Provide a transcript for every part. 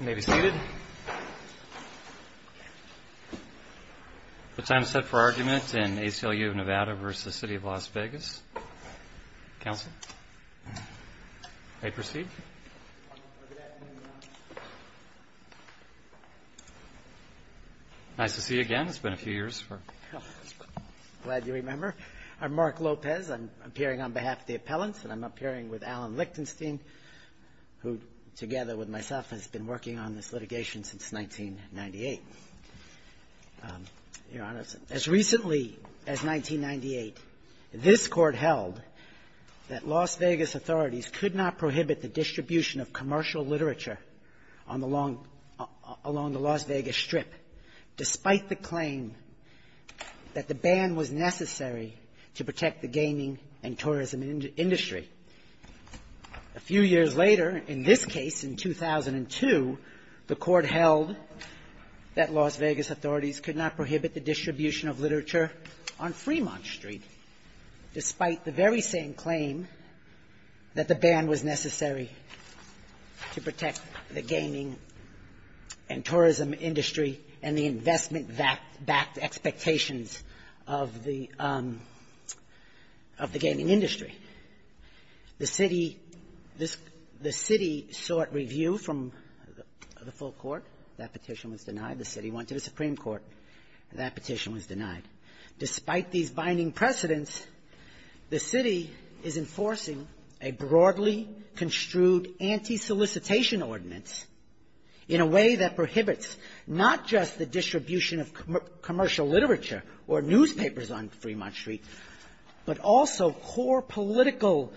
You may be seated. The time is set for argument in ACLU of Nevada v. City of Las Vegas. Counsel? May I proceed? Nice to see you again. It's been a few years. Glad you remember. I'm Mark Lopez. I'm appearing on behalf of the appellants and I'm appearing with Alan Lichtenstein, who, together with myself, has been working on this litigation since 1998. Your Honor, as recently as 1998, this Court held that Las Vegas authorities could not prohibit the distribution of commercial literature on the long — along the Las Vegas Strip, despite the claim that the ban was necessary to protect the gaming and tourism industry. A few years later, in this case, in 2002, the Court held that Las Vegas authorities could not prohibit the distribution of literature on Fremont Street, despite the very same claim that the ban was necessary to protect the gaming and tourism industry and the investment-backed expectations of the — of the gaming industry. The City — the City sought review from the full Court. That petition was denied. The City went to the Supreme Court. That petition was denied. Despite these binding precedents, the City is enforcing a broadly construed anti-solicitation ordinance in a way that or newspapers on Fremont Street, but also core political,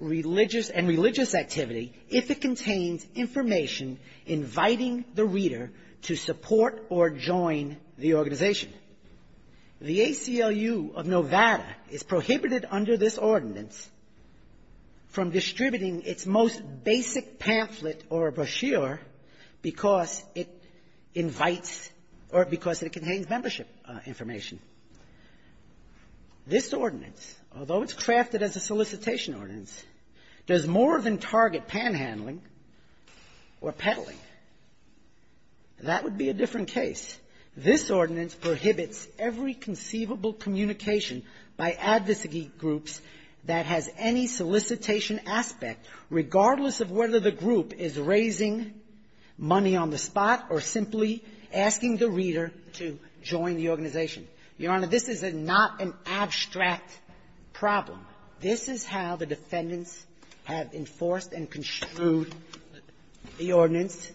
religious and religious activity, if it contains information inviting the reader to support or join the organization. The ACLU of Nevada is prohibited under this ordinance from distributing its most basic pamphlet or brochure because it invites — or because it contains membership information. This ordinance, although it's crafted as a solicitation ordinance, does more than target panhandling or peddling. That would be a different case. This ordinance prohibits every conceivable communication by advocacy groups that has any solicitation aspect, regardless of whether the group is raising money on the spot or simply asking the reader to join the organization. Your Honor, this is a — not an abstract problem. This is how the defendants have enforced and construed the ordinance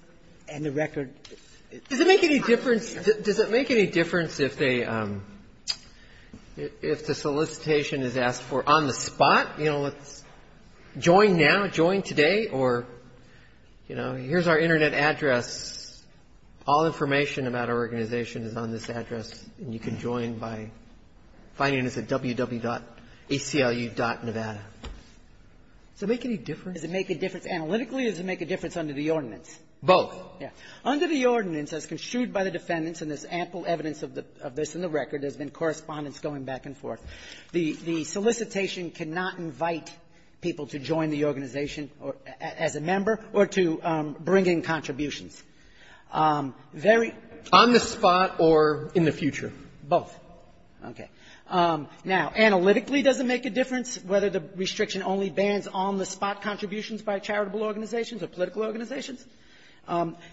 and the record. Does it make any difference — does it make any difference if they — if the solicitation is asked for on the spot, you know, let's join now, join today, or, you know, here's our Internet address. All information about our organization is on this address, and you can join by finding us at www.aclu.nevada. Does it make any difference? Does it make a difference analytically, or does it make a difference under the ordinance? Both. Yeah. Under the ordinance, as construed by the defendants, and there's ample evidence of the — of this in the record, there's been correspondence going back and forth, the — the solicitation cannot invite people to join the organization or — as a member or to bring in contributions. Very — On the spot or in the future? Both. Okay. Now, analytically, does it make a difference whether the restriction only bans on-the-spot contributions by charitable organizations or political organizations?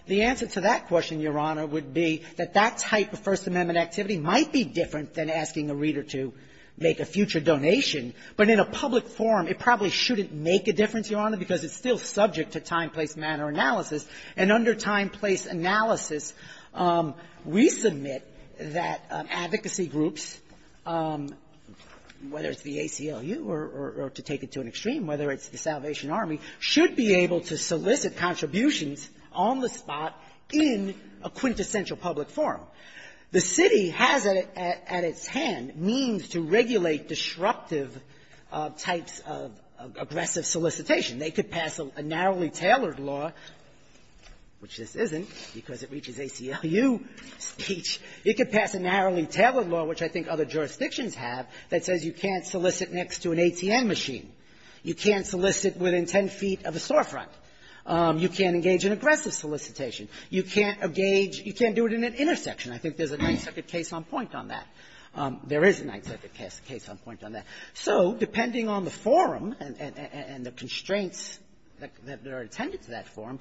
The answer to that question, Your Honor, would be that that type of First Amendment activity might be different than asking a reader to make a future donation, but in a public forum, it probably shouldn't make a difference, Your Honor, simply because it's still subject to time, place, manner analysis. And under time, place analysis, we submit that advocacy groups, whether it's the ACLU or to take it to an extreme, whether it's the Salvation Army, should be able to solicit contributions on the spot in a quintessential public forum. The city has at its hand means to regulate disruptive types of aggressive solicitation. They could pass a narrowly tailored law, which this isn't because it reaches ACLU speech. It could pass a narrowly tailored law, which I think other jurisdictions have, that says you can't solicit next to an ATM machine. You can't solicit within 10 feet of a storefront. You can't engage in aggressive solicitation. You can't engage — you can't do it in an intersection. I think there's a Ninth Circuit case on point on that. There is a Ninth Circuit case on point on that. So depending on the forum and the constraints that are attended to that forum,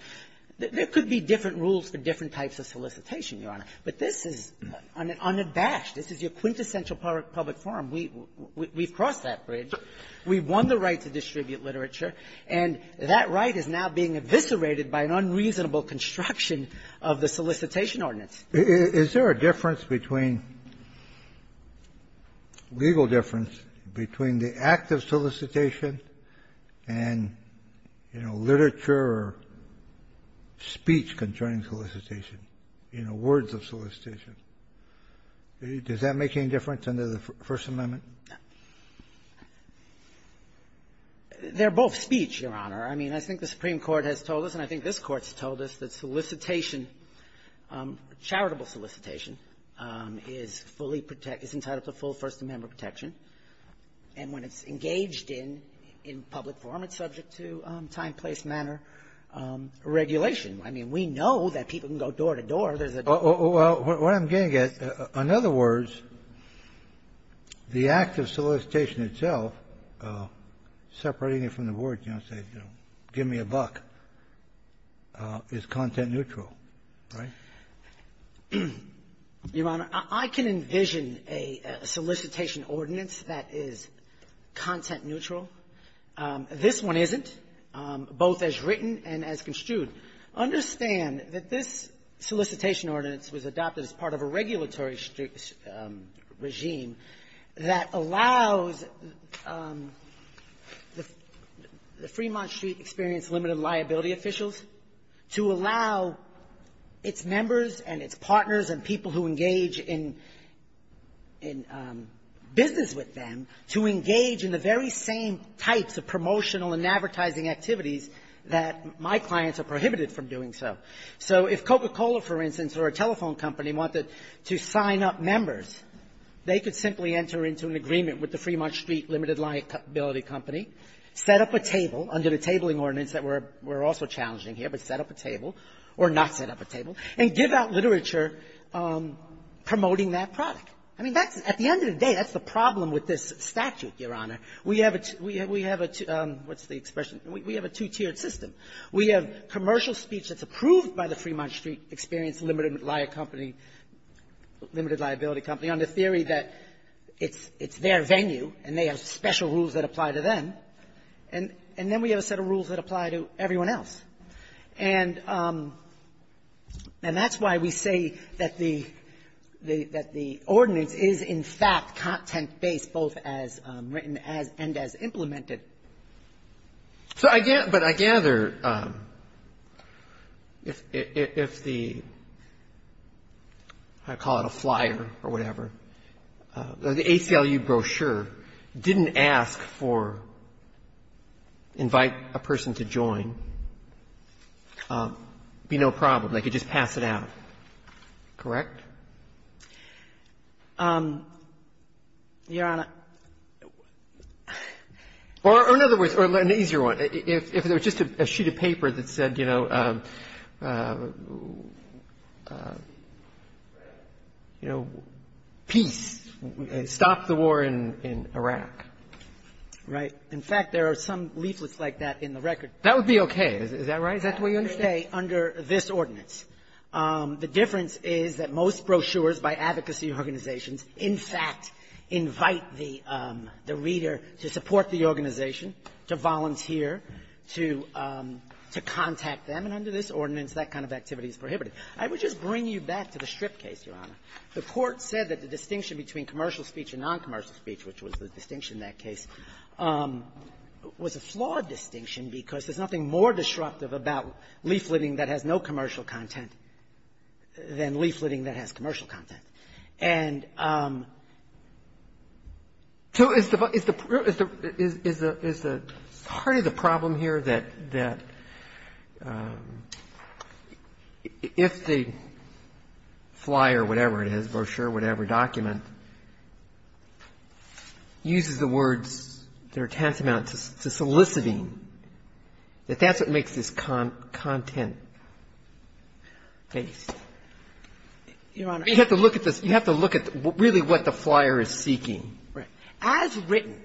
there could be different rules for different types of solicitation, Your Honor. But this is unabashed. This is your quintessential public forum. We've crossed that bridge. We've won the right to distribute literature. And that right is now being eviscerated by an unreasonable construction of the solicitation ordinance. Kennedy, is there a difference between — legal difference between the act of solicitation and, you know, literature or speech concerning solicitation, you know, words of solicitation? Does that make any difference under the First Amendment? They're both speech, Your Honor. I mean, I think the Supreme Court has told us, and I think this Court has told us, that solicitation, charitable solicitation, is fully — is entitled to full First Amendment protection. And when it's engaged in public forum, it's subject to time, place, manner, regulation. I mean, we know that people can go door to door. There's a — Well, what I'm getting at, in other words, the act of solicitation itself, separating it from the words, you know, say, you know, give me a buck, is content-neutral. Right? Your Honor, I can envision a solicitation ordinance that is content-neutral. This one isn't, both as written and as construed. Understand that this solicitation ordinance was adopted as part of a regulatory regime that allows the — the Fremont Street Experience Limited liability officials to allow its members and its partners and people who engage in — in business with them to engage in the very same types of promotional and advertising activities that my clients are prohibited from doing so. So if Coca-Cola, for instance, or a telephone company wanted to sign up members, they could simply enter into an agreement with the Fremont Street Limited liability company, set up a table under the tabling ordinance that we're — we're also challenging here, but set up a table or not set up a table, and give out literature promoting that product. I mean, that's — at the end of the day, that's the problem with this statute, Your Honor. We have a — we have a — what's the expression? We have a two-tiered system. We have commercial speech that's approved by the Fremont Street Experience Limited liability company on the theory that it's — it's their venue, and they have special rules that apply to them. And — and then we have a set of rules that apply to everyone else. And — and that's why we say that the — that the ordinance is, in fact, content-based both as written as — and as implemented. So I — but I gather if — if the — I call it a flyer or whatever, the ACLU brochure didn't ask for — invite a person to join, it would be no problem. They could just pass it out, correct? Your Honor — Or in other words, or an easier one, if there was just a sheet of paper that said, you know, you know, peace, stop the war in — in Iraq. Right. In fact, there are some leaflets like that in the record. That would be okay, is that right? Is that the way you understand it? That would be okay under this ordinance. The difference is that most brochures by advocacy organizations, in fact, invite the — the reader to support the organization, to volunteer, to — to contact them, and under this ordinance, that kind of activity is prohibited. I would just bring you back to the Strip case, Your Honor. The Court said that the distinction between commercial speech and noncommercial speech, which was the distinction in that case, was a flawed distinction because there's nothing more disruptive about leafleting that has no commercial content than leafleting that has commercial content. And — So is the — is the — is the — is the — is the — part of the problem here that — that if the flyer, whatever it is, brochure, whatever, document, uses the words that are tantamount to soliciting, that that's what makes this content-based? Your Honor. You have to look at this. You have to look at really what the flyer is seeking. Right. As written,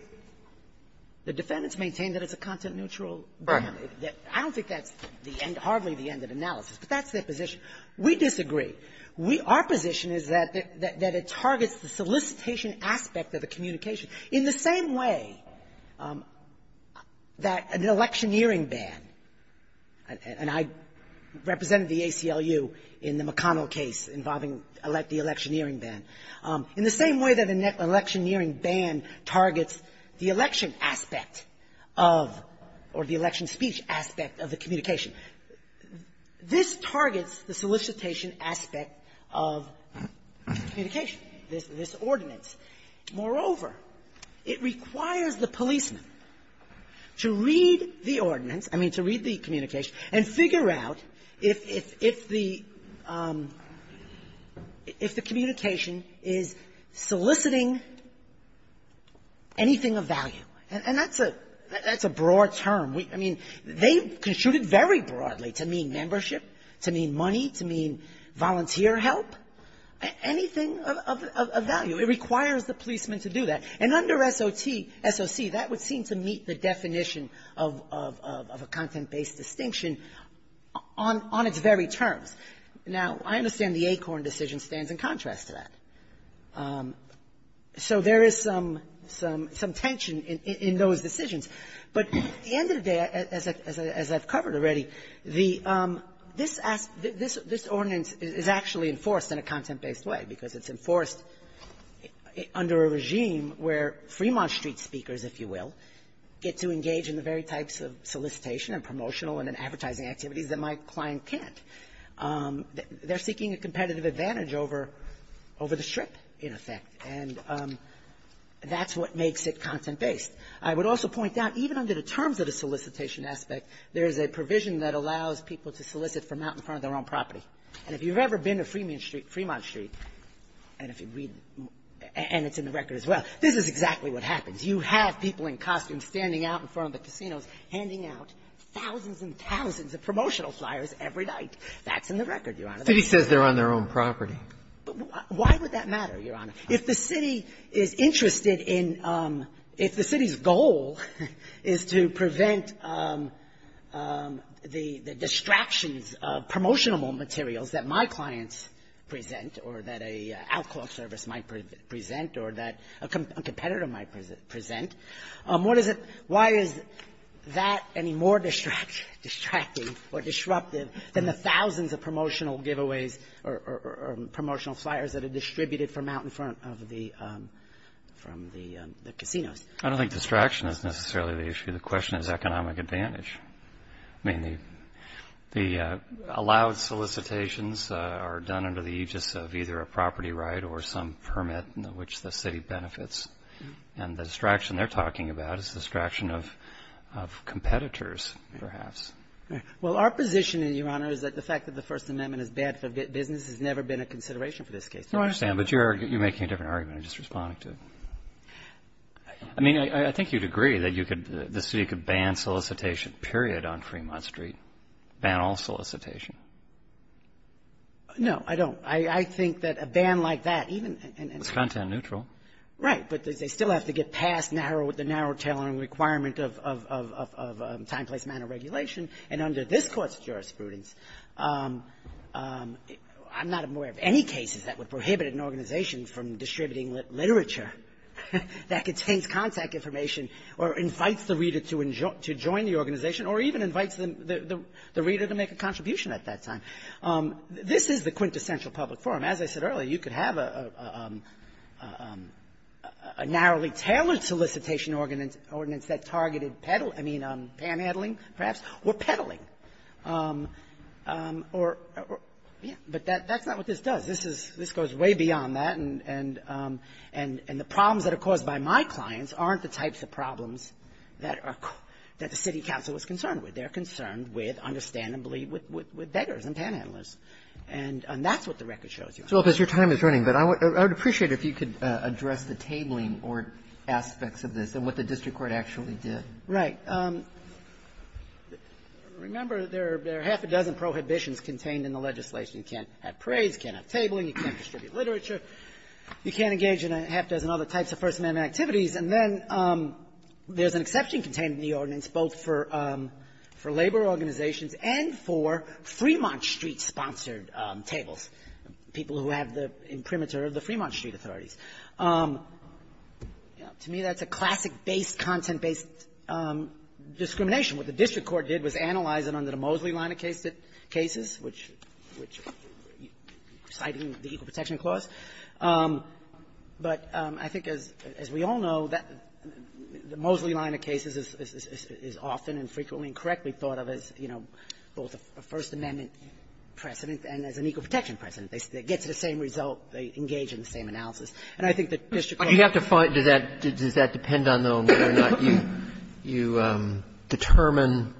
the defendants maintain that it's a content-neutral document. Right. I don't think that's the end — hardly the end of analysis, but that's their position. We disagree. We — our position is that — that it targets the solicitation aspect of the communication in the same way that an electioneering ban — and I represented the ACLU in the McConnell case involving the electioneering ban — in the same way that an electioneering ban targets the election aspect of — or the election speech aspect of the communication. This targets the solicitation aspect of communication, this — this ordinance. Moreover, it requires the policeman to read the ordinance, I mean, to read the communication, and figure out if the — if the communication is soliciting anything of value. And that's a — that's a broad term. I mean, they construed it very broadly, to mean membership, to mean money, to mean volunteer help, anything of — of value. It requires the policeman to do that. And under SOT — SOC, that would seem to meet the definition of — of a content-based distinction on its very terms. Now, I understand the Acorn decision stands in contrast to that. So there is some — some tension in those decisions. But at the end of the day, as I've covered already, the — this — this ordinance is actually enforced in a content-based way, because it's enforced under a regime where Fremont Street speakers, if you will, get to engage in the very types of solicitation and promotional and advertising activities that my client can't. They're seeking a competitive advantage over — over the strip, in effect. And that's what makes it content-based. I would also point out, even under the terms of the solicitation aspect, there is a provision that allows people to solicit from out in front of their own property. And if you've ever been to Fremont Street, and if you read — and it's in the record as well, this is exactly what happens. You have people in costumes standing out in front of the casinos handing out thousands and thousands of promotional flyers every night. That's in the record, Your Honor. The City says they're on their own property. Why would that matter, Your Honor? If the City is interested in — if the City's goal is to prevent the — the distractions of promotional materials that my clients present or that a outcall service might present or that a competitor might present, what is it — why is that any more distracting or disruptive than the thousands of promotional giveaways or promotional flyers that are distributed from out in front of the — from the casinos? I don't think distraction is necessarily the issue. The question is economic advantage. I mean, the allowed solicitations are done under the aegis of either a property right or some permit in which the City benefits. And the distraction they're talking about is the distraction of competitors, perhaps. Well, our position, Your Honor, is that the fact that the First Amendment is bad for business has never been a consideration for this case. No, I understand. But you're making a different argument. I'm just responding to it. I mean, I think you'd agree that you could — the City could ban solicitation, period, on Fremont Street, ban all solicitation. No, I don't. I think that a ban like that, even — It's content neutral. Right. But they still have to get past the narrow tailoring requirement of time, place, manner regulation. And under this Court's jurisprudence, I'm not aware of any cases that would prohibit an organization from distributing literature that contains contact information or invites the reader to join the organization or even invites the reader to make a contribution at that time. This is the quintessential public forum. As I said earlier, you could have a narrowly tailored solicitation ordinance that targeted peddling — I mean, panhandling, perhaps, or peddling. Or — yeah. But that's not what this does. This is — this goes way beyond that. And the problems that are caused by my clients aren't the types of problems that are — that the City Council is concerned with. They're concerned with, understandably, with beggars and panhandlers. And that's what the record shows you. So if your time is running, but I would appreciate if you could address the tabling or aspects of this and what the district court actually did. Right. Remember, there are half a dozen prohibitions contained in the legislation. You can't have parades. You can't have tabling. You can't distribute literature. You can't engage in a half dozen other types of First Amendment activities. And then there's an exception contained in the ordinance both for labor organizations and for Fremont Street-sponsored tables, people who have the imprimatur of the Fremont Street authorities. To me, that's a classic base content-based discrimination. What the district court did was analyze it under the Moseley line of cases, which — citing the Equal Protection Clause. But I think, as we all know, the Moseley line of cases is often and frequently and correctly thought of as, you know, both a First Amendment precedent and as an equal protection precedent. They get to the same result. They engage in the same analysis. And I think the district court — Sotomayor, you determine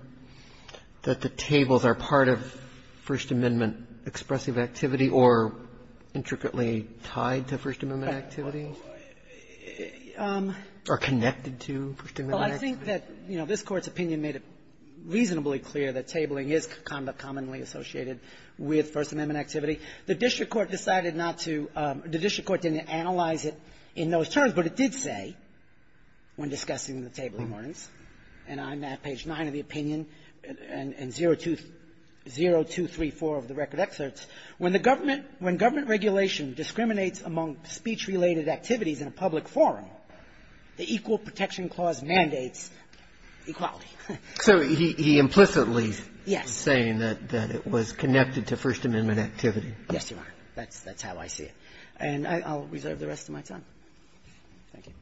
that the tables are part of First Amendment expressive activity or intricately tied to First Amendment activity or connected to First Amendment activity? Well, I think that, you know, this Court's opinion made it reasonably clear that tabling is commonly associated with First Amendment activity. The district court decided not to — the district court didn't analyze it in those when discussing the tabling warnings. And I'm at page 9 of the opinion and 0234 of the record excerpts. When the government — when government regulation discriminates among speech-related activities in a public forum, the Equal Protection Clause mandates equality. So he implicitly is saying that it was connected to First Amendment activity. Yes, Your Honor. That's how I see it. And I'll reserve the rest of my time. Thank you.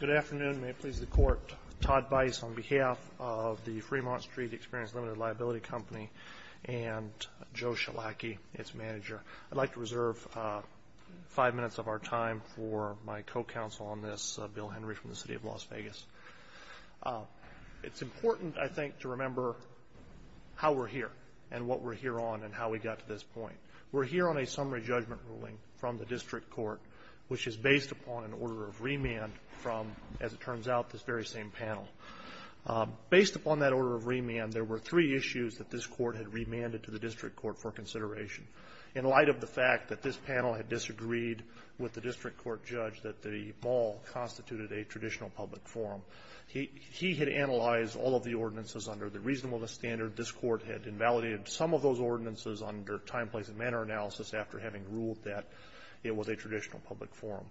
Good afternoon. May it please the Court, Todd Bice on behalf of the Fremont Street Experience Limited Liability Company and Joe Schelake, its manager. I'd like to reserve five minutes of our time for my co-counsel on this, Bill Henry from the City of Las Vegas. It's important, I think, to remember how we're here and what we're here on and how we got to this point. We're here on a summary judgment ruling from the district court, which is based upon an order of remand from, as it turns out, this very same panel. Based upon that order of remand, there were three issues that this court had remanded to the district court for consideration. In light of the fact that this panel had disagreed with the district court judge that the ball constituted a traditional public forum, he had analyzed all of the ordinances under the reasonableness standard. This court had invalidated some of those ordinances under time, place, and manner analysis after having ruled that it was a traditional public forum.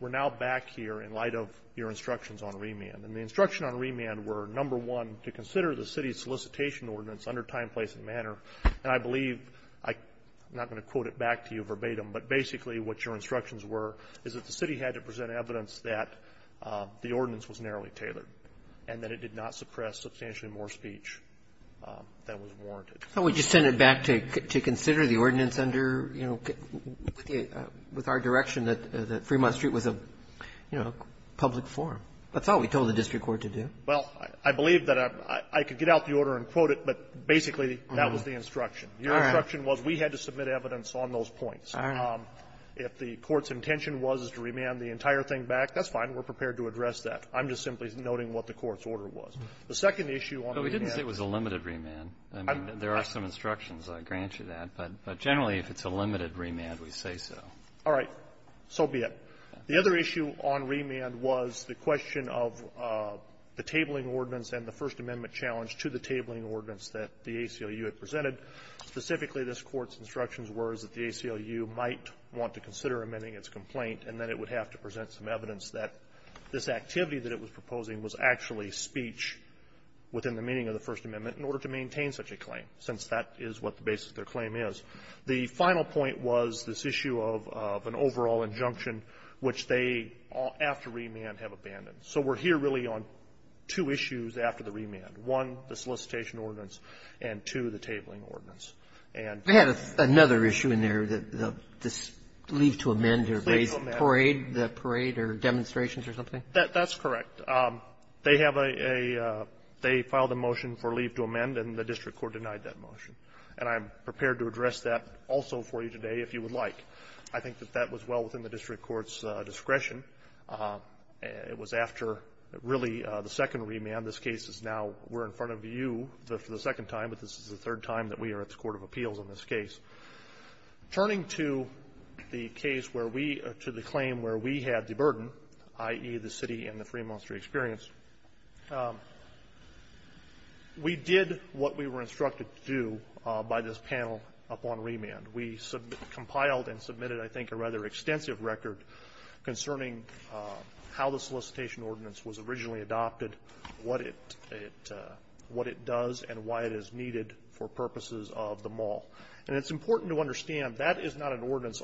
We're now back here in light of your instructions on remand. And the instructions on remand were, number one, to consider the city's solicitation ordinance under time, place, and manner. And I believe, I'm not going to quote it back to you verbatim, but basically what your instructions were is that the city had to present evidence that the ordinance was narrowly tailored and that it did not suppress substantially more speech than was warranted. So we just send it back to consider the ordinance under, you know, with our direction that Fremont Street was a, you know, public forum. That's all we told the district court to do. Well, I believe that I could get out the order and quote it, but basically that was the instruction. Your instruction was we had to submit evidence on those points. All right. If the court's intention was to remand the entire thing back, that's fine. We're prepared to address that. I'm just simply noting what the court's order was. The second issue on remand was the question of the tabling ordinance and the First Amendment challenge to the tabling ordinance that the ACLU had presented. Specifically, this Court's instructions were that the ACLU might not be able to provide want to consider amending its complaint, and that it would have to present some evidence that this activity that it was proposing was actually speech within the meaning of the First Amendment in order to maintain such a claim, since that is what the basis of their claim is. The final point was this issue of an overall injunction which they, after remand, have abandoned. So we're here really on two issues after the remand. One, the solicitation ordinance, and two, the tabling ordinance. And they had another issue in there, the leave to amend or parade, the parade or demonstrations or something? That's correct. They have a they filed a motion for leave to amend, and the district court denied that motion. And I'm prepared to address that also for you today, if you would like. I think that that was well within the district court's discretion. It was after, really, the second remand. This case is now we're in front of you for the second time, but this is the third time that we are at the Court of Appeals on this case. Turning to the case where we to the claim where we had the burden, i.e., the city and the Fremont Street experience, we did what we were instructed to do by this panel upon remand. We compiled and submitted, I think, a rather extensive record concerning how the solicitation was conducted for the purposes of the mall. And it's important to understand that is not an ordinance,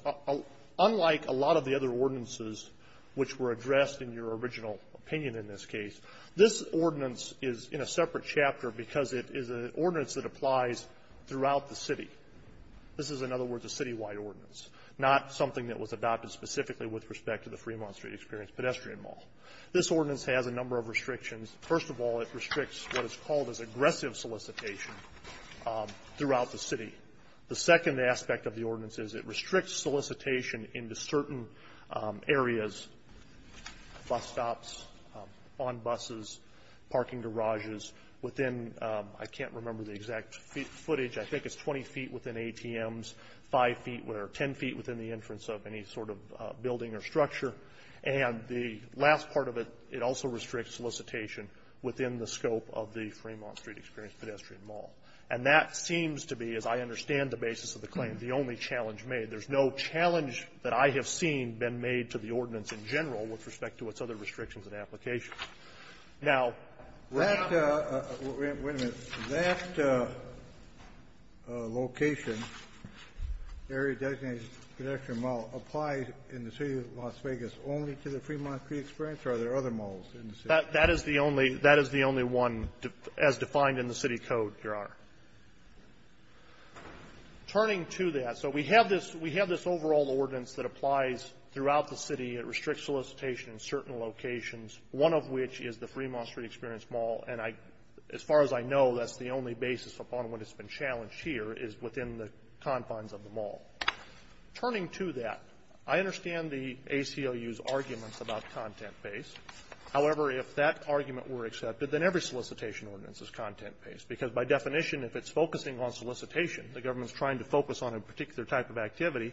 unlike a lot of the other ordinances which were addressed in your original opinion in this case. This ordinance is in a separate chapter because it is an ordinance that applies throughout the city. This is, in other words, a citywide ordinance, not something that was adopted specifically with respect to the Fremont Street experience pedestrian mall. This ordinance has a number of restrictions. First of all, it restricts what is called as aggressive solicitation throughout the city. The second aspect of the ordinance is it restricts solicitation into certain areas, bus stops, on buses, parking garages, within the exact footage, I think it's 20 feet within ATMs, 5 feet or 10 feet within the entrance of any sort of building or structure. And the last part of it, it also restricts solicitation within the scope of the Fremont Street experience pedestrian mall. And that seems to be, as I understand the basis of the claim, the only challenge made. There's no challenge that I have seen been made to the ordinance in general with respect to its other restrictions and applications. Now, that location, area designated pedestrian mall, applies in the city of Las Vegas only to the Fremont Street experience, or are there other malls in the city? That is the only one as defined in the city code, Your Honor. Turning to that, so we have this overall ordinance that applies throughout the city. It restricts solicitation in certain locations, one of which is the Fremont Street experience mall. And as far as I know, that's the only basis upon which it's been challenged here, is within the confines of the mall. Turning to that, I understand the ACLU's arguments about content-based. However, if that argument were accepted, then every solicitation ordinance is content-based. Because by definition, if it's focusing on solicitation, the government is trying to focus on a particular type of activity,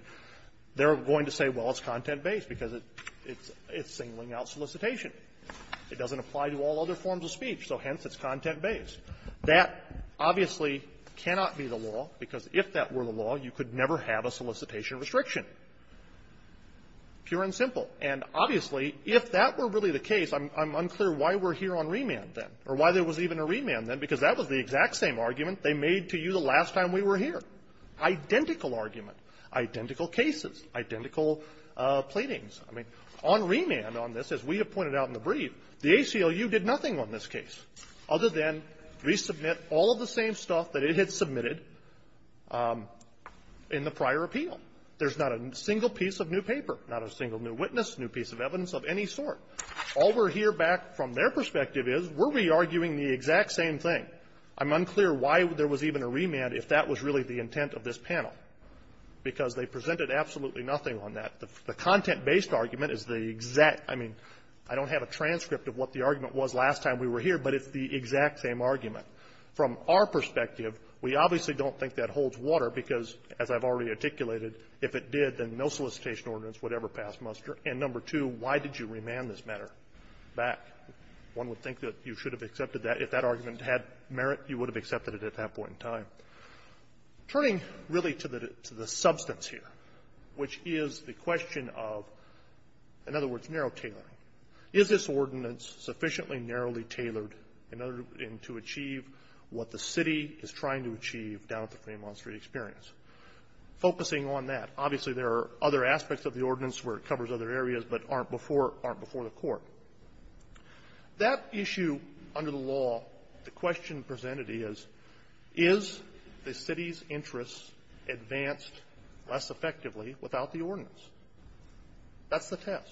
they're going to say, well, it's content-based because it's singling out solicitation. It doesn't apply to all other forms of speech, so hence, it's content-based. That obviously cannot be the law, because if that were the law, you could never have a solicitation restriction, pure and simple. And obviously, if that were really the case, I'm unclear why we're here on remand then, or why there was even a remand then, because that was the exact same argument they made to you the last time we were here, identical argument, identical cases, identical pleadings. I mean, on remand on this, as we have pointed out in the brief, the ACLU did nothing on this case other than resubmit all of the same stuff that it had submitted in the prior appeal. There's not a single piece of new paper, not a single new witness, new piece of evidence of any sort. All we're here back from their perspective is, were we arguing the exact same thing? I'm unclear why there was even a remand if that was really the intent of this panel, because they presented absolutely nothing on that. The content-based argument is the exact – I mean, I don't have a transcript of what the argument was last time we were here, but it's the exact same argument. From our perspective, we obviously don't think that holds water because, as I've already articulated, if it did, then no solicitation ordinance would ever pass muster. And number two, why did you remand this matter back? One would think that you should have accepted that. If that argument had merit, you would have accepted it at that point in time. Turning really to the substance here, which is the question of, in other words, narrow tailoring. Is this ordinance sufficiently narrowly tailored in order to achieve what the city is trying to achieve down at the Fremont Street experience? Focusing on that, obviously, there are other aspects of the ordinance where it covers other areas, but aren't before the Court. That issue under the law, the question presented is, is the city's interests advanced less effectively without the ordinance? That's the test.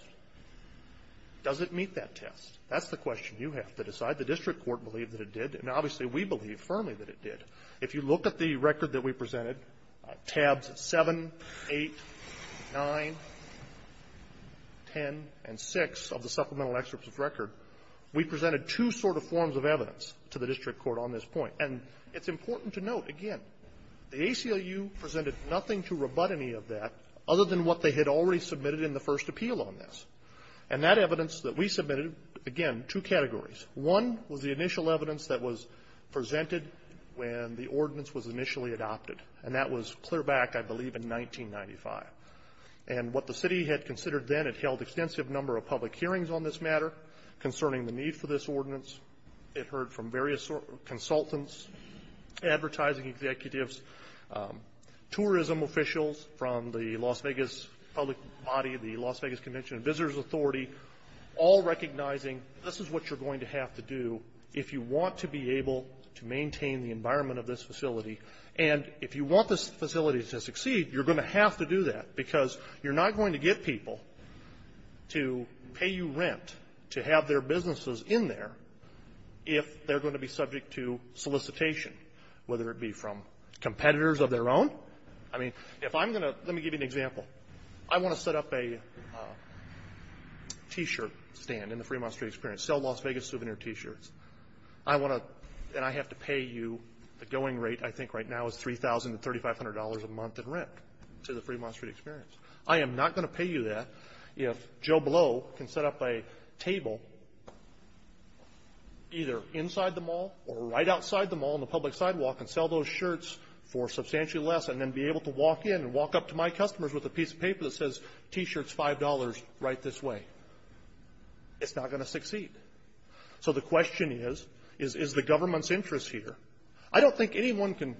Does it meet that test? That's the question you have to decide. The district court believed that it did, and obviously we believe firmly that it did. If you look at the record that we presented, tabs 7, 8, 9, 10, and 6 of the supplemental excerpts of the record, we presented two sort of forms of evidence to the district court on this point. And it's important to note, again, the ACLU presented nothing to rebut any of that other than what they had already submitted in the first appeal on this. And that evidence that we submitted, again, two categories. One was the initial evidence that was presented when the ordinance was initially adopted, and that was clear back, I believe, in 1995. And what the city had considered then, it held extensive number of public hearings on this matter concerning the need for this ordinance. It heard from various consultants, advertising executives, tourism officials from the Las Vegas public body, the Las Vegas Convention and Visitors Authority, all recognizing this is what you're going to have to do if you want to be able to maintain the environment of this facility. And if you want this facility to succeed, you're going to have to do that because you're not going to get people to pay you rent to have their businesses in there if they're going to be subject to solicitation, whether it be from competitors of their own. I mean, if I'm going to, let me give you an example. I want to set up a t-shirt stand in the Fremont Street Experience, sell Las Vegas souvenir t-shirts. I want to, and I have to pay you, the going rate I think right now is $3,000 to $3,500 a month in rent to the Fremont Street Experience. I am not going to pay you that if Joe Blow can set up a table either inside the mall or right outside the mall on the public sidewalk and sell those shirts for substantially less and then be able to walk in and walk up to my customers with a piece of paper that says, t-shirts $5 right this way. It's not going to succeed. So the question is, is the government's interest here? I don't think anyone can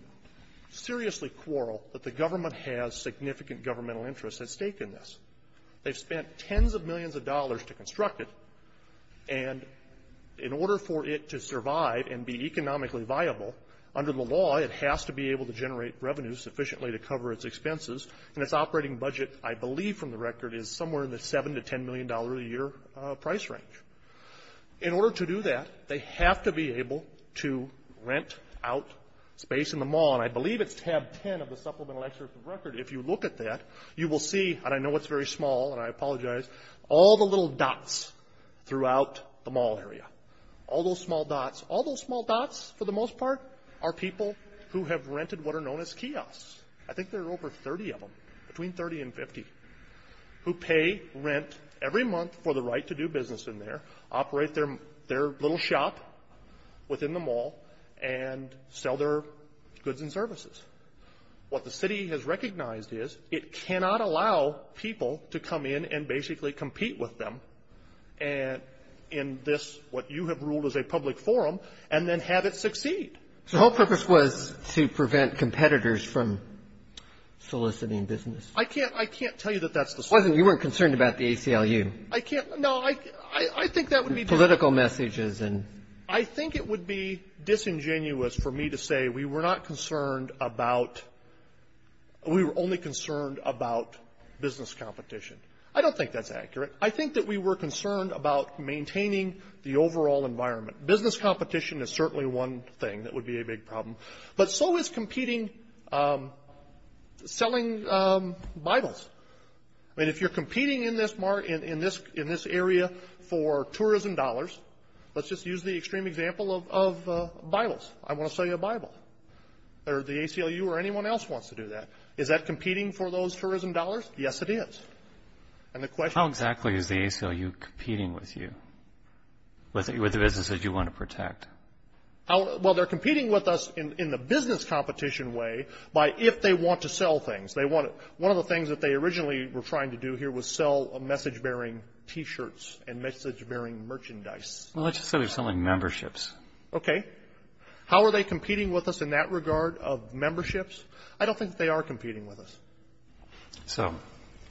seriously quarrel that the government has significant governmental interest at stake in this. They've spent tens of millions of dollars to construct it. And in order for it to survive and be economically viable, under the law, it has to be able to generate revenue sufficiently to cover its expenses, and its operating budget, I believe from the record, is somewhere in the $7 to $10 million a year price range. In order to do that, they have to be able to rent out space in the mall. And I believe it's tab 10 of the supplemental excerpt of the record. If you look at that, you will see, and I know it's very small and I apologize, all the little dots throughout the mall area, all those small dots. All those small dots, for the most part, are people who have rented what are known as kiosks. I think there are over 30 of them, between 30 and 50, who pay rent every month for the right to do business in there, operate their little shop within the mall, and sell their goods and services. What the city has recognized is it cannot allow people to come in and So the whole purpose was to prevent competitors from soliciting business. I can't tell you that that's the solution. You weren't concerned about the ACLU. I can't. No, I think that would be the one. Political messages and — I think it would be disingenuous for me to say we were not concerned about — we were only concerned about business competition. I don't think that's accurate. I think that we were concerned about maintaining the overall environment. Business competition is certainly one thing that would be a big problem, but so is competing — selling Bibles. I mean, if you're competing in this area for tourism dollars — let's just use the extreme example of Bibles. I want to sell you a Bible. Or the ACLU or anyone else wants to do that. Is that competing for those tourism dollars? Yes, it is. And the question — How exactly is the ACLU competing with you? With the businesses you want to protect? Well, they're competing with us in the business competition way by if they want to sell things. They want — one of the things that they originally were trying to do here was sell message-bearing T-shirts and message-bearing merchandise. Well, let's just say we're selling memberships. Okay. How are they competing with us in that regard of memberships? I don't think they are competing with us. So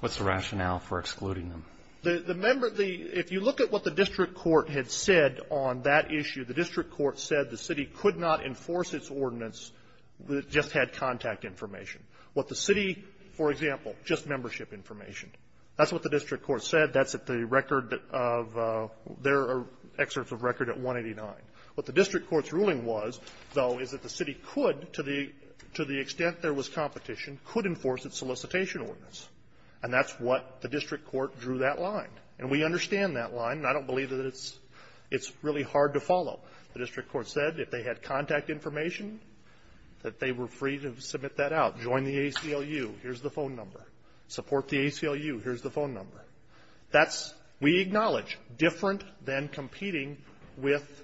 what's the rationale for excluding them? The — the — if you look at what the district court had said on that issue, the district court said the city could not enforce its ordinance if it just had contact information. What the city — for example, just membership information. That's what the district court said. That's at the record of — their excerpts of record at 189. What the district court's ruling was, though, is that the city could, to the — to the solicitation ordinance. And that's what the district court drew that line. And we understand that line. And I don't believe that it's — it's really hard to follow. The district court said if they had contact information, that they were free to submit that out. Join the ACLU. Here's the phone number. Support the ACLU. Here's the phone number. That's — we acknowledge, different than competing with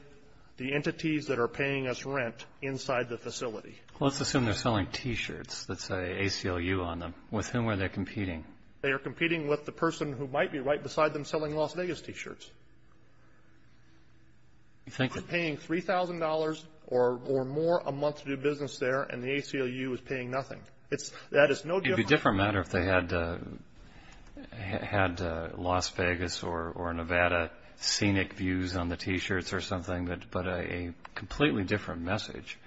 the entities that are paying us rent inside the facility. Well, let's assume they're selling T-shirts that say ACLU on them. With whom are they competing? They are competing with the person who might be right beside them selling Las Vegas T-shirts. Who's paying $3,000 or — or more a month to do business there, and the ACLU is paying nothing? It's — that is no different — It would be a different matter if they had — had Las Vegas or Nevada scenic views on the T-shirts or something, but — but a completely different message.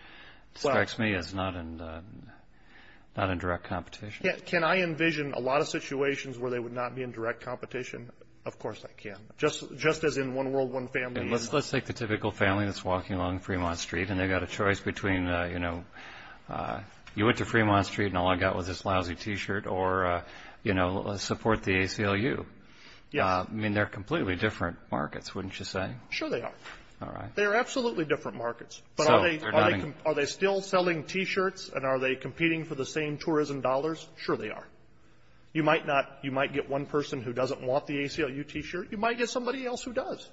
Which strikes me as not in — not in direct competition. Can I envision a lot of situations where they would not be in direct competition? Of course I can. Just as in one world, one family — And let's — let's take the typical family that's walking along Fremont Street and they've got a choice between, you know, you went to Fremont Street and all I got was this lousy T-shirt or, you know, let's support the ACLU. Yes. I mean, they're completely different markets, wouldn't you say? Sure they are. All right. They are absolutely different markets. But are they — are they still selling T-shirts and are they competing for the same tourism dollars? Sure they are. You might not — you might get one person who doesn't want the ACLU T-shirt. You might get somebody else who does.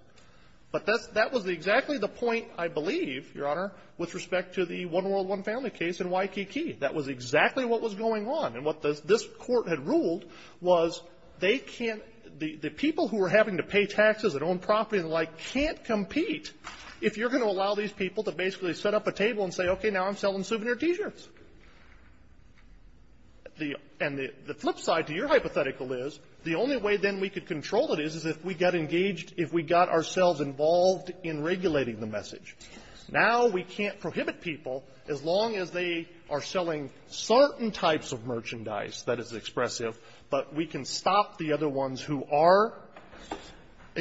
But that's — that was exactly the point, I believe, Your Honor, with respect to the one world, one family case in Waikiki. That was exactly what was going on. And what this — this court had ruled was they can't — the people who are having to pay taxes and own property and the like can't compete if you're going to allow these people to basically set up a table and say, okay, now I'm selling souvenir T-shirts. The — and the flip side to your hypothetical is the only way then we could control it is if we got engaged — if we got ourselves involved in regulating the message. Now we can't prohibit people as long as they are selling certain types of merchandise that is expressive, but we can stop the other ones who are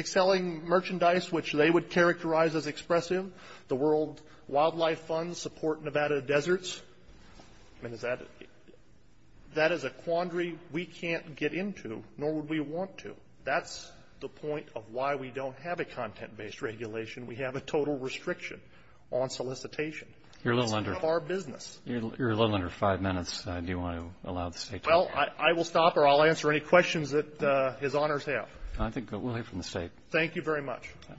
selling merchandise which they would characterize as expressive. The World Wildlife Fund support Nevada deserts. I mean, is that — that is a quandary we can't get into, nor would we want to. That's the point of why we don't have a content-based regulation. We have a total restriction on solicitation. It's none of our business. You're a little under — you're a little under five minutes. Do you want to allow the State to — Well, I will stop or I'll answer any questions that His Honors have. I think we'll hear from the State. Thank you very much. Thank you.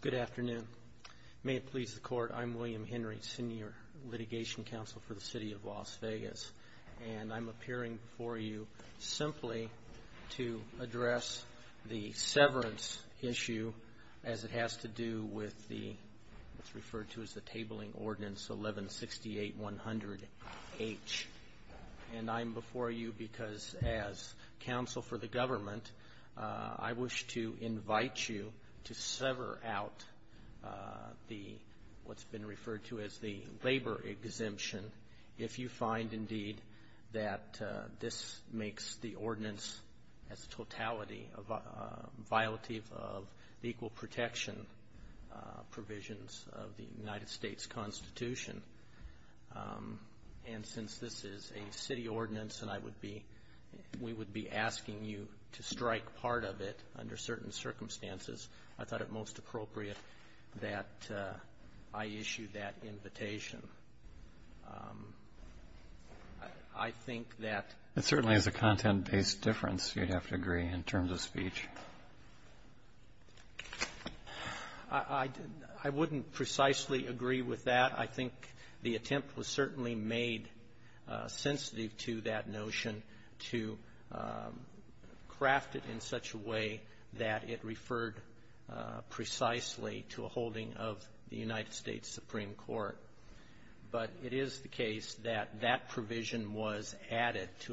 Good afternoon. May it please the Court, I'm William Henry, Senior Litigation Counsel for the City of Las Vegas, and I'm appearing before you simply to address the severance issue as it is referred to as the Tabling Ordinance 1168-100-H. And I'm before you because as counsel for the government, I wish to invite you to sever out the — what's been referred to as the labor exemption if you find, indeed, that this makes the ordinance as a totality a violative of the equal protection provisions of the United States Constitution. And since this is a city ordinance and I would be — we would be asking you to strike part of it under certain circumstances, I thought it most appropriate that I issue that invitation. I think that — It's a content-based difference, you'd have to agree, in terms of speech. I wouldn't precisely agree with that. I think the attempt was certainly made sensitive to that notion to craft it in such a way that it referred precisely to a holding of the United States Supreme Court. But it is the case that that provision was added to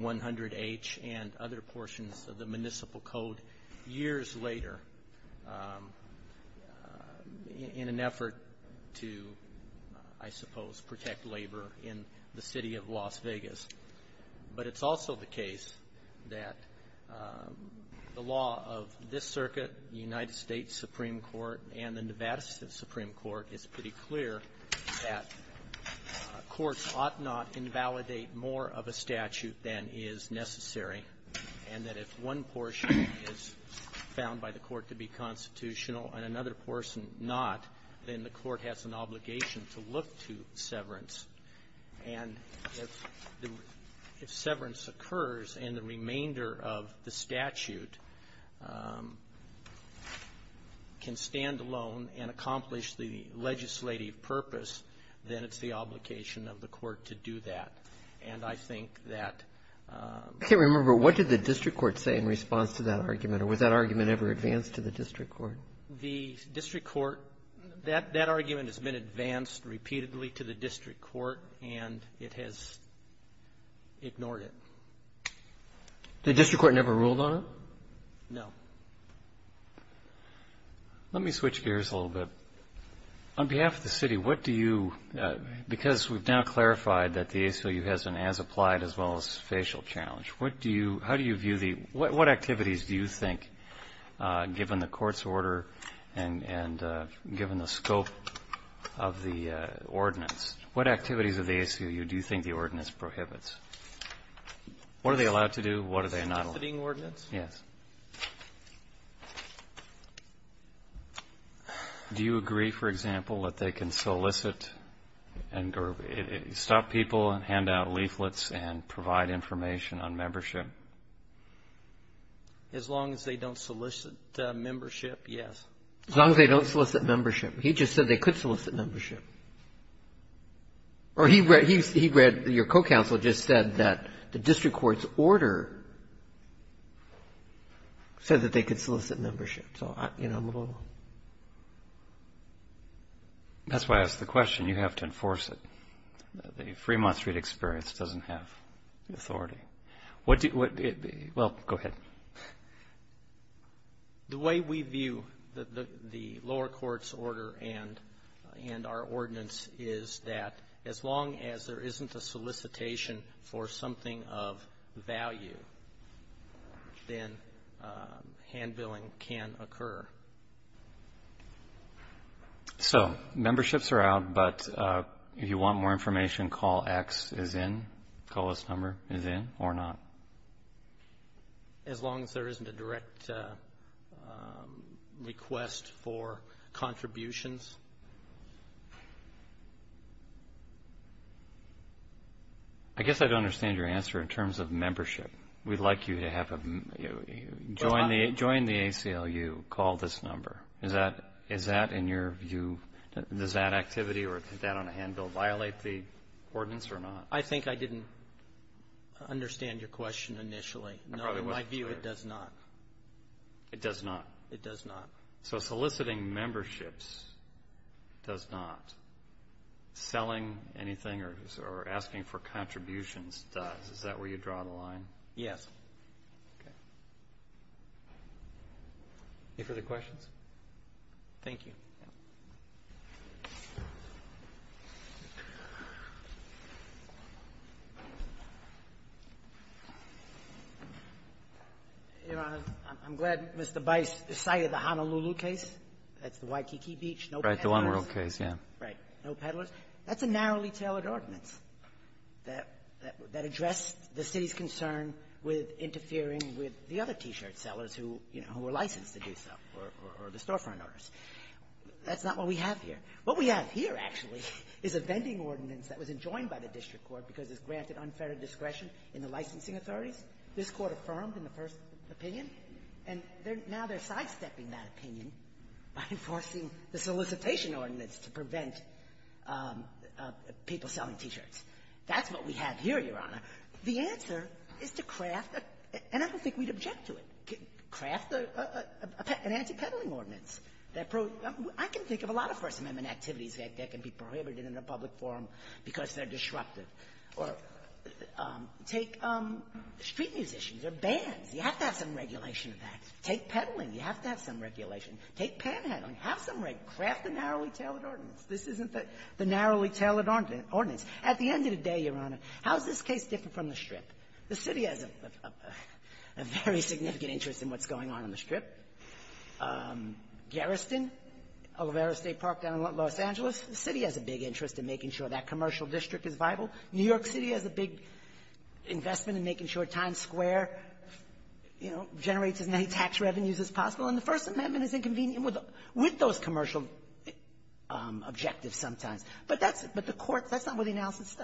1168-100-H and other portions of the Municipal Code years later in an effort to, I suppose, protect labor in the City of Las Vegas. But it's also the case that the law of this circuit, the United States Supreme Court, and the Nevada Supreme Court, it's pretty clear that courts ought not invalidate more of a statute than is necessary, and that if one portion is found by the court to be constitutional and another portion not, then the court has an obligation to look to severance. And if the — if severance occurs and the remainder of the statute can stand alone and accomplish the legislative purpose, then it's the obligation of the court to do that. And I think that — I can't remember. What did the district court say in response to that argument? Or was that argument ever advanced to the district court? The district court — that argument has been advanced repeatedly to the district court, and it has ignored it. The district court never ruled on it? No. Let me switch gears a little bit. On behalf of the City, what do you — because we've now clarified that the ACLU has an as-applied-as-well-as-facial challenge, what do you — how do you view the — what activities do you think, given the court's order and given the scope of the ordinance, what activities of the ACLU do you think the ordinance prohibits? What are they allowed to do? What are they not — Soliciting ordinance? Yes. Do you agree, for example, that they can solicit and — or stop people and hand out leaflets and provide information on membership? As long as they don't solicit membership, yes. As long as they don't solicit membership. He just said they could solicit membership. Or he read — he read — your co-counsel just said that the district court's order said that they could solicit membership. So I — you know, I'm a little — That's why I asked the question. You have to enforce it. The Fremont Street experience doesn't have the authority. What do — well, go ahead. The way we view the lower court's order and our ordinance is that as long as there isn't a solicitation for something of value, then hand-billing can occur. So, memberships are out, but if you want more information, call X is in — call this number is in or not. As long as there isn't a direct request for contributions? I guess I don't understand your answer in terms of membership. We'd like you to have a — join the ACLU. Call this number. Is that — is that in your view — does that activity or that on a hand-bill violate the ordinance or not? I think I didn't understand your question initially. No, in my view, it does not. It does not? It does not. So soliciting memberships does not. Selling anything or asking for contributions does. Is that where you draw the line? Yes. Okay. Any further questions? Thank you. Your Honor, I'm glad Mr. Bice cited the Honolulu case. That's the Waikiki Beach, no peddlers. Right. The one-world case, yeah. Right. No peddlers. That's a narrowly-tailored ordinance that — that addressed the City's concern with interfering with the other T-shirt sellers who, you know, who were licensed to do so, or the storefront owners. That's not what we have here. What we have here, actually, is a vending ordinance that was enjoined by the district court because it's granted unfair discretion in the licensing authorities. This Court affirmed in the first opinion, and now they're sidestepping that opinion by enforcing the solicitation ordinance to prevent people selling T-shirts. That's what we have here, Your Honor. The answer is to craft a — and I don't think we'd object to it — craft an anti-peddling ordinance that — I can think of a lot of First Amendment activities that can be prohibited in a public forum because they're disruptive. Or take street musicians or bands. You have to have some regulation of that. Take peddling. You have to have some regulation. Take panhandling. Have some regulation. Craft a narrowly-tailored ordinance. This isn't the narrowly-tailored ordinance. At the end of the day, Your Honor, how is this case different from the Strip? The City has a very significant interest in what's going on in the Strip. Garriston, Olivera State Park down in Los Angeles, the City has a big interest in making sure that commercial district is viable. New York City has a big investment in making sure Times Square, you know, generates as many tax revenues as possible. And the First Amendment is inconvenient with those commercial objectives sometimes. But that's — but the courts — that's not where the analysis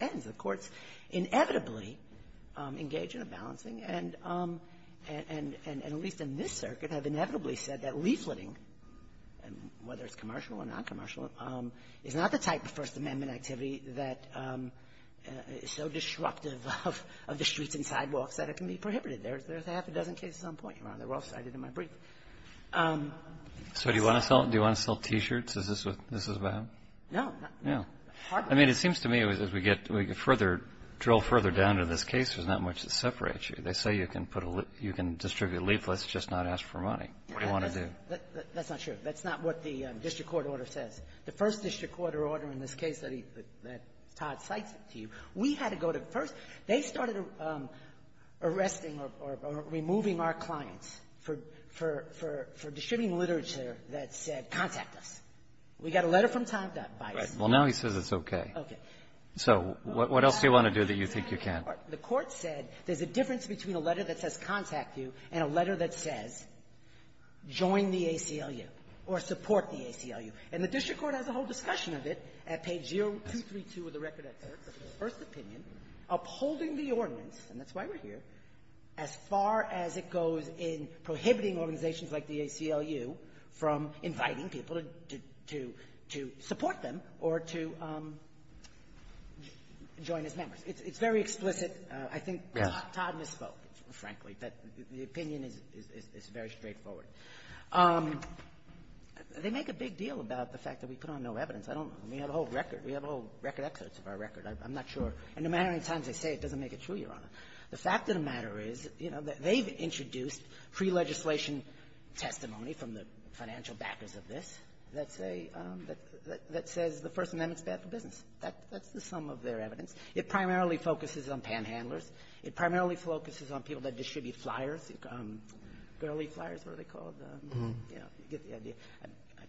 ends. The courts inevitably engage in a balancing. And at least in this circuit have inevitably said that leafleting, whether it's commercial or noncommercial, is not the type of First Amendment activity that is so disruptive of the streets and sidewalks that it can be prohibited. There's half a dozen cases on point, Your Honor. They're all cited in my brief. So do you want to sell — do you want to sell T-shirts? Is this what this is about? No. No. I mean, it seems to me as we get further — drill further down to this case, there's not much that separates you. They say you can put a — you can distribute leaflets, just not ask for money. What do you want to do? That's not true. That's not what the district court order says. The first district court order in this case that he — that Todd cites it to you, we had to go to — first, they started arresting or removing our clients for — for — for distributing literature that said, contact us. We got a letter from Todd that biased us. Right. Well, now he says it's okay. Okay. So what else do you want to do that you think you can't? The court said there's a difference between a letter that says, contact you, and a letter that says, join the ACLU or support the ACLU. And the district court has a whole discussion of it at page 0232 of the record that says, first opinion, upholding the ordinance, and that's why we're here, as far as it goes in prohibiting organizations like the ACLU from inviting people to — to — to support them or to join as members. It's very explicit. I think Todd misspoke, frankly, but the opinion is — is very straightforward. They make a big deal about the fact that we put on no evidence. I don't know. We have a whole record. We have a whole record exodus of our record. I'm not sure. And no matter how many times I say it, it doesn't make it true, Your Honor. The fact of the matter is, you know, that they've introduced pre-legislation testimony from the financial backers of this that say — that says the First Amendment is bad for business. That's the sum of their evidence. It primarily focuses on panhandlers. It primarily focuses on people that distribute flyers, girly flyers, what are they called? You know, you get the idea.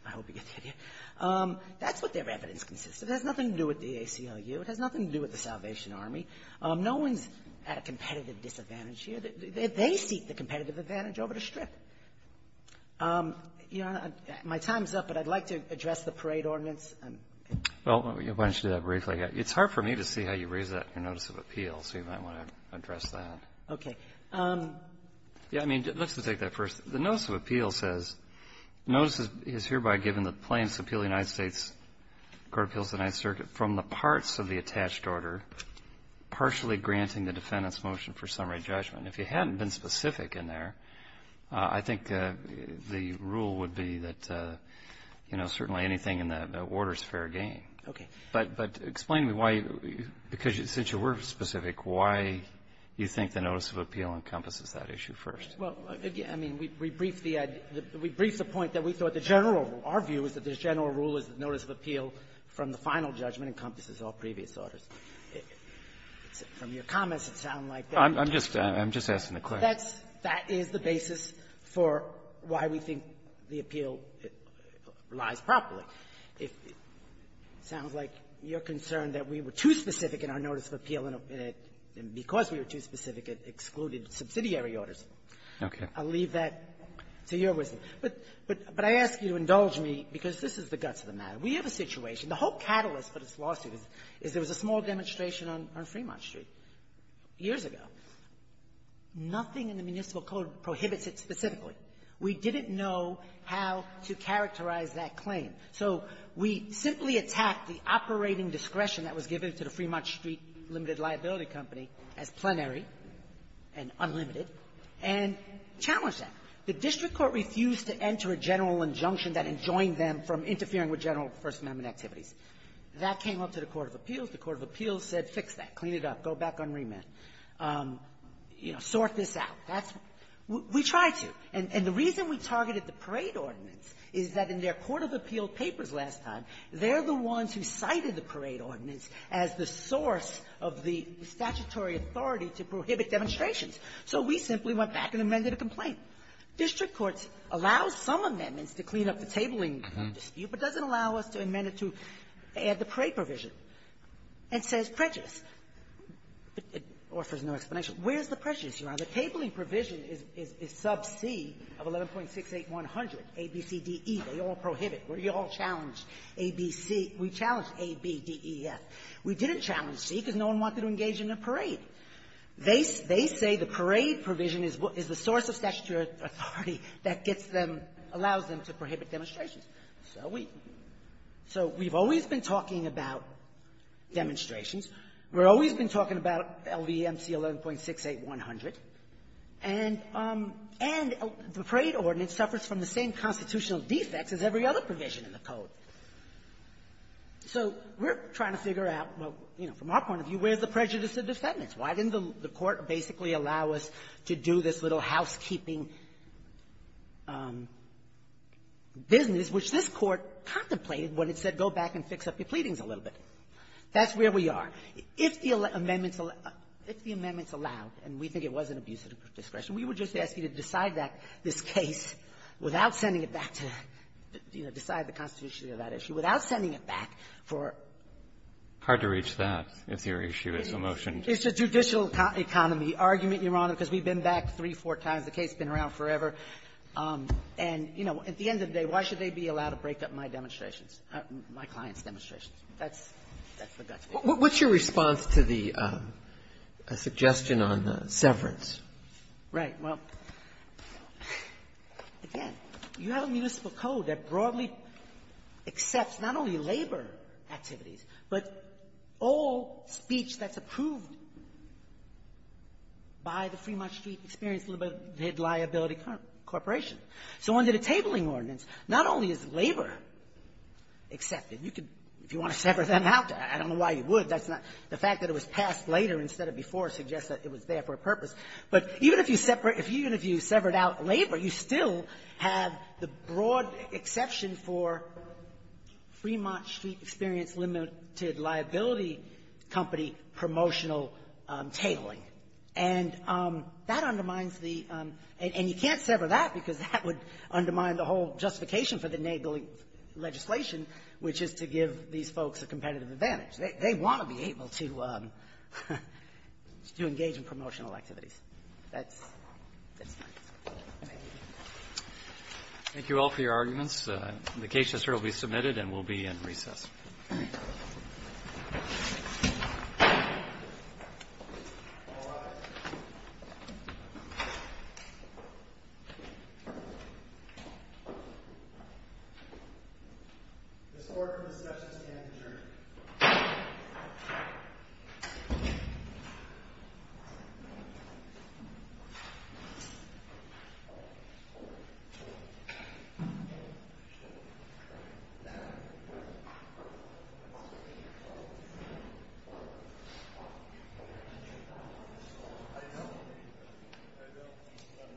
I hope you get the idea. That's what their evidence consists of. It has nothing to do with the ACLU. It has nothing to do with the Salvation Army. No one's at a competitive disadvantage here. They seek the competitive advantage over the Strip. Your Honor, my time's up, but I'd like to address the parade ordinance. Breyer. Well, why don't you do that briefly? It's hard for me to see how you raise that in your notice of appeal, so you might want to address that. Okay. Yeah. I mean, let's just take that first. The notice of appeal says notice is hereby given the plaintiffs' appeal of the United States Court of Appeals to the Ninth Circuit from the parts of the attached order partially granting the defendant's motion for summary judgment. If you hadn't been specific in there, I think the rule would be that, you know, certainly anything in the order is fair game. Okay. But explain to me why, because since you were specific, why you think the notice of appeal encompasses that issue first. Well, again, I mean, we briefed the point that we thought the general rule, our view is that the general rule is that notice of appeal from the final judgment encompasses all previous orders. From your comments, it sounds like that's the basis for why we think the appeal lies properly. If it sounds like you're concerned that we were too specific in our notice of appeal, and because we were too specific, it excluded subsidiary orders. Okay. I'll leave that to your wisdom. But I ask you to indulge me, because this is the guts of the matter. We have a situation. The whole catalyst for this lawsuit is there was a small demonstration on Fremont Street years ago. Nothing in the municipal code prohibits it specifically. We didn't know how to characterize that claim. So we simply attacked the operating discretion that was given to the Fremont Street Limited Liability Company as plenary and unlimited, and challenged that. The district court refused to enter a general injunction that enjoined them from interfering with general First Amendment activities. That came up to the court of appeals. The court of appeals said, fix that. Clean it up. Go back on remit. You know, sort this out. We tried to. And the reason we targeted the parade ordinance is that in their case, there was a lack of the statutory authority to prohibit demonstrations. So we simply went back and amended a complaint. District courts allow some amendments to clean up the tabling dispute, but doesn't allow us to amend it to add the parade provision. And says prejudice. It offers no explanation. Where's the prejudice here? The tabling provision is sub C of 11.68100, A, B, C, D, E. They all prohibit. We all challenged A, B, C. We challenged A, B, D, E, F. We didn't challenge C because no one wanted to engage in a parade. They say the parade provision is the source of statutory authority that gets them, allows them to prohibit demonstrations. So we've always been talking about demonstrations. We've always been talking about LVMC 11.68100. And the parade ordinance suffers from the same constitutional defects as every other provision in the Code. So we're trying to figure out, well, you know, from our point of view, where's the prejudice of defendants? Why didn't the Court basically allow us to do this little housekeeping business, which this Court contemplated when it said go back and fix up your pleadings a little bit? That's where we are. If the amendments allowed, and we think it was an abuse of discretion, we would just ask you to decide that, this case, without sending it back to, you know, decide the constitutionality of that issue, without sending it back for ---- Roberts. Hard to reach that, if your issue is the motion. It's a judicial economy argument, Your Honor, because we've been back three, four times. The case has been around forever. And, you know, at the end of the day, why should they be allowed to break up my demonstrations, my clients' demonstrations? That's the guts of it. What's your response to the suggestion on severance? Right. Well, again, you have a municipal code that broadly accepts not only labor activities, but all speech that's approved by the Fremont Street Experience Limited Liability Corporation. So under the tabling ordinance, not only is labor accepted. You could, if you want to sever them out, I don't know why you would. That's not the fact that it was passed later instead of before suggests that it was there for a purpose. But even if you separate ---- even if you severed out labor, you still have the broad exception for Fremont Street Experience Limited Liability Company promotional tabling. And that undermines the ---- and you can't sever that, because that would undermine the whole justification for the enabling legislation, which is to give these folks a competitive advantage. They want to be able to engage in promotional activities. That's my response. Thank you. Thank you all for your arguments. The case is here to be submitted and will be in recess. Thank you.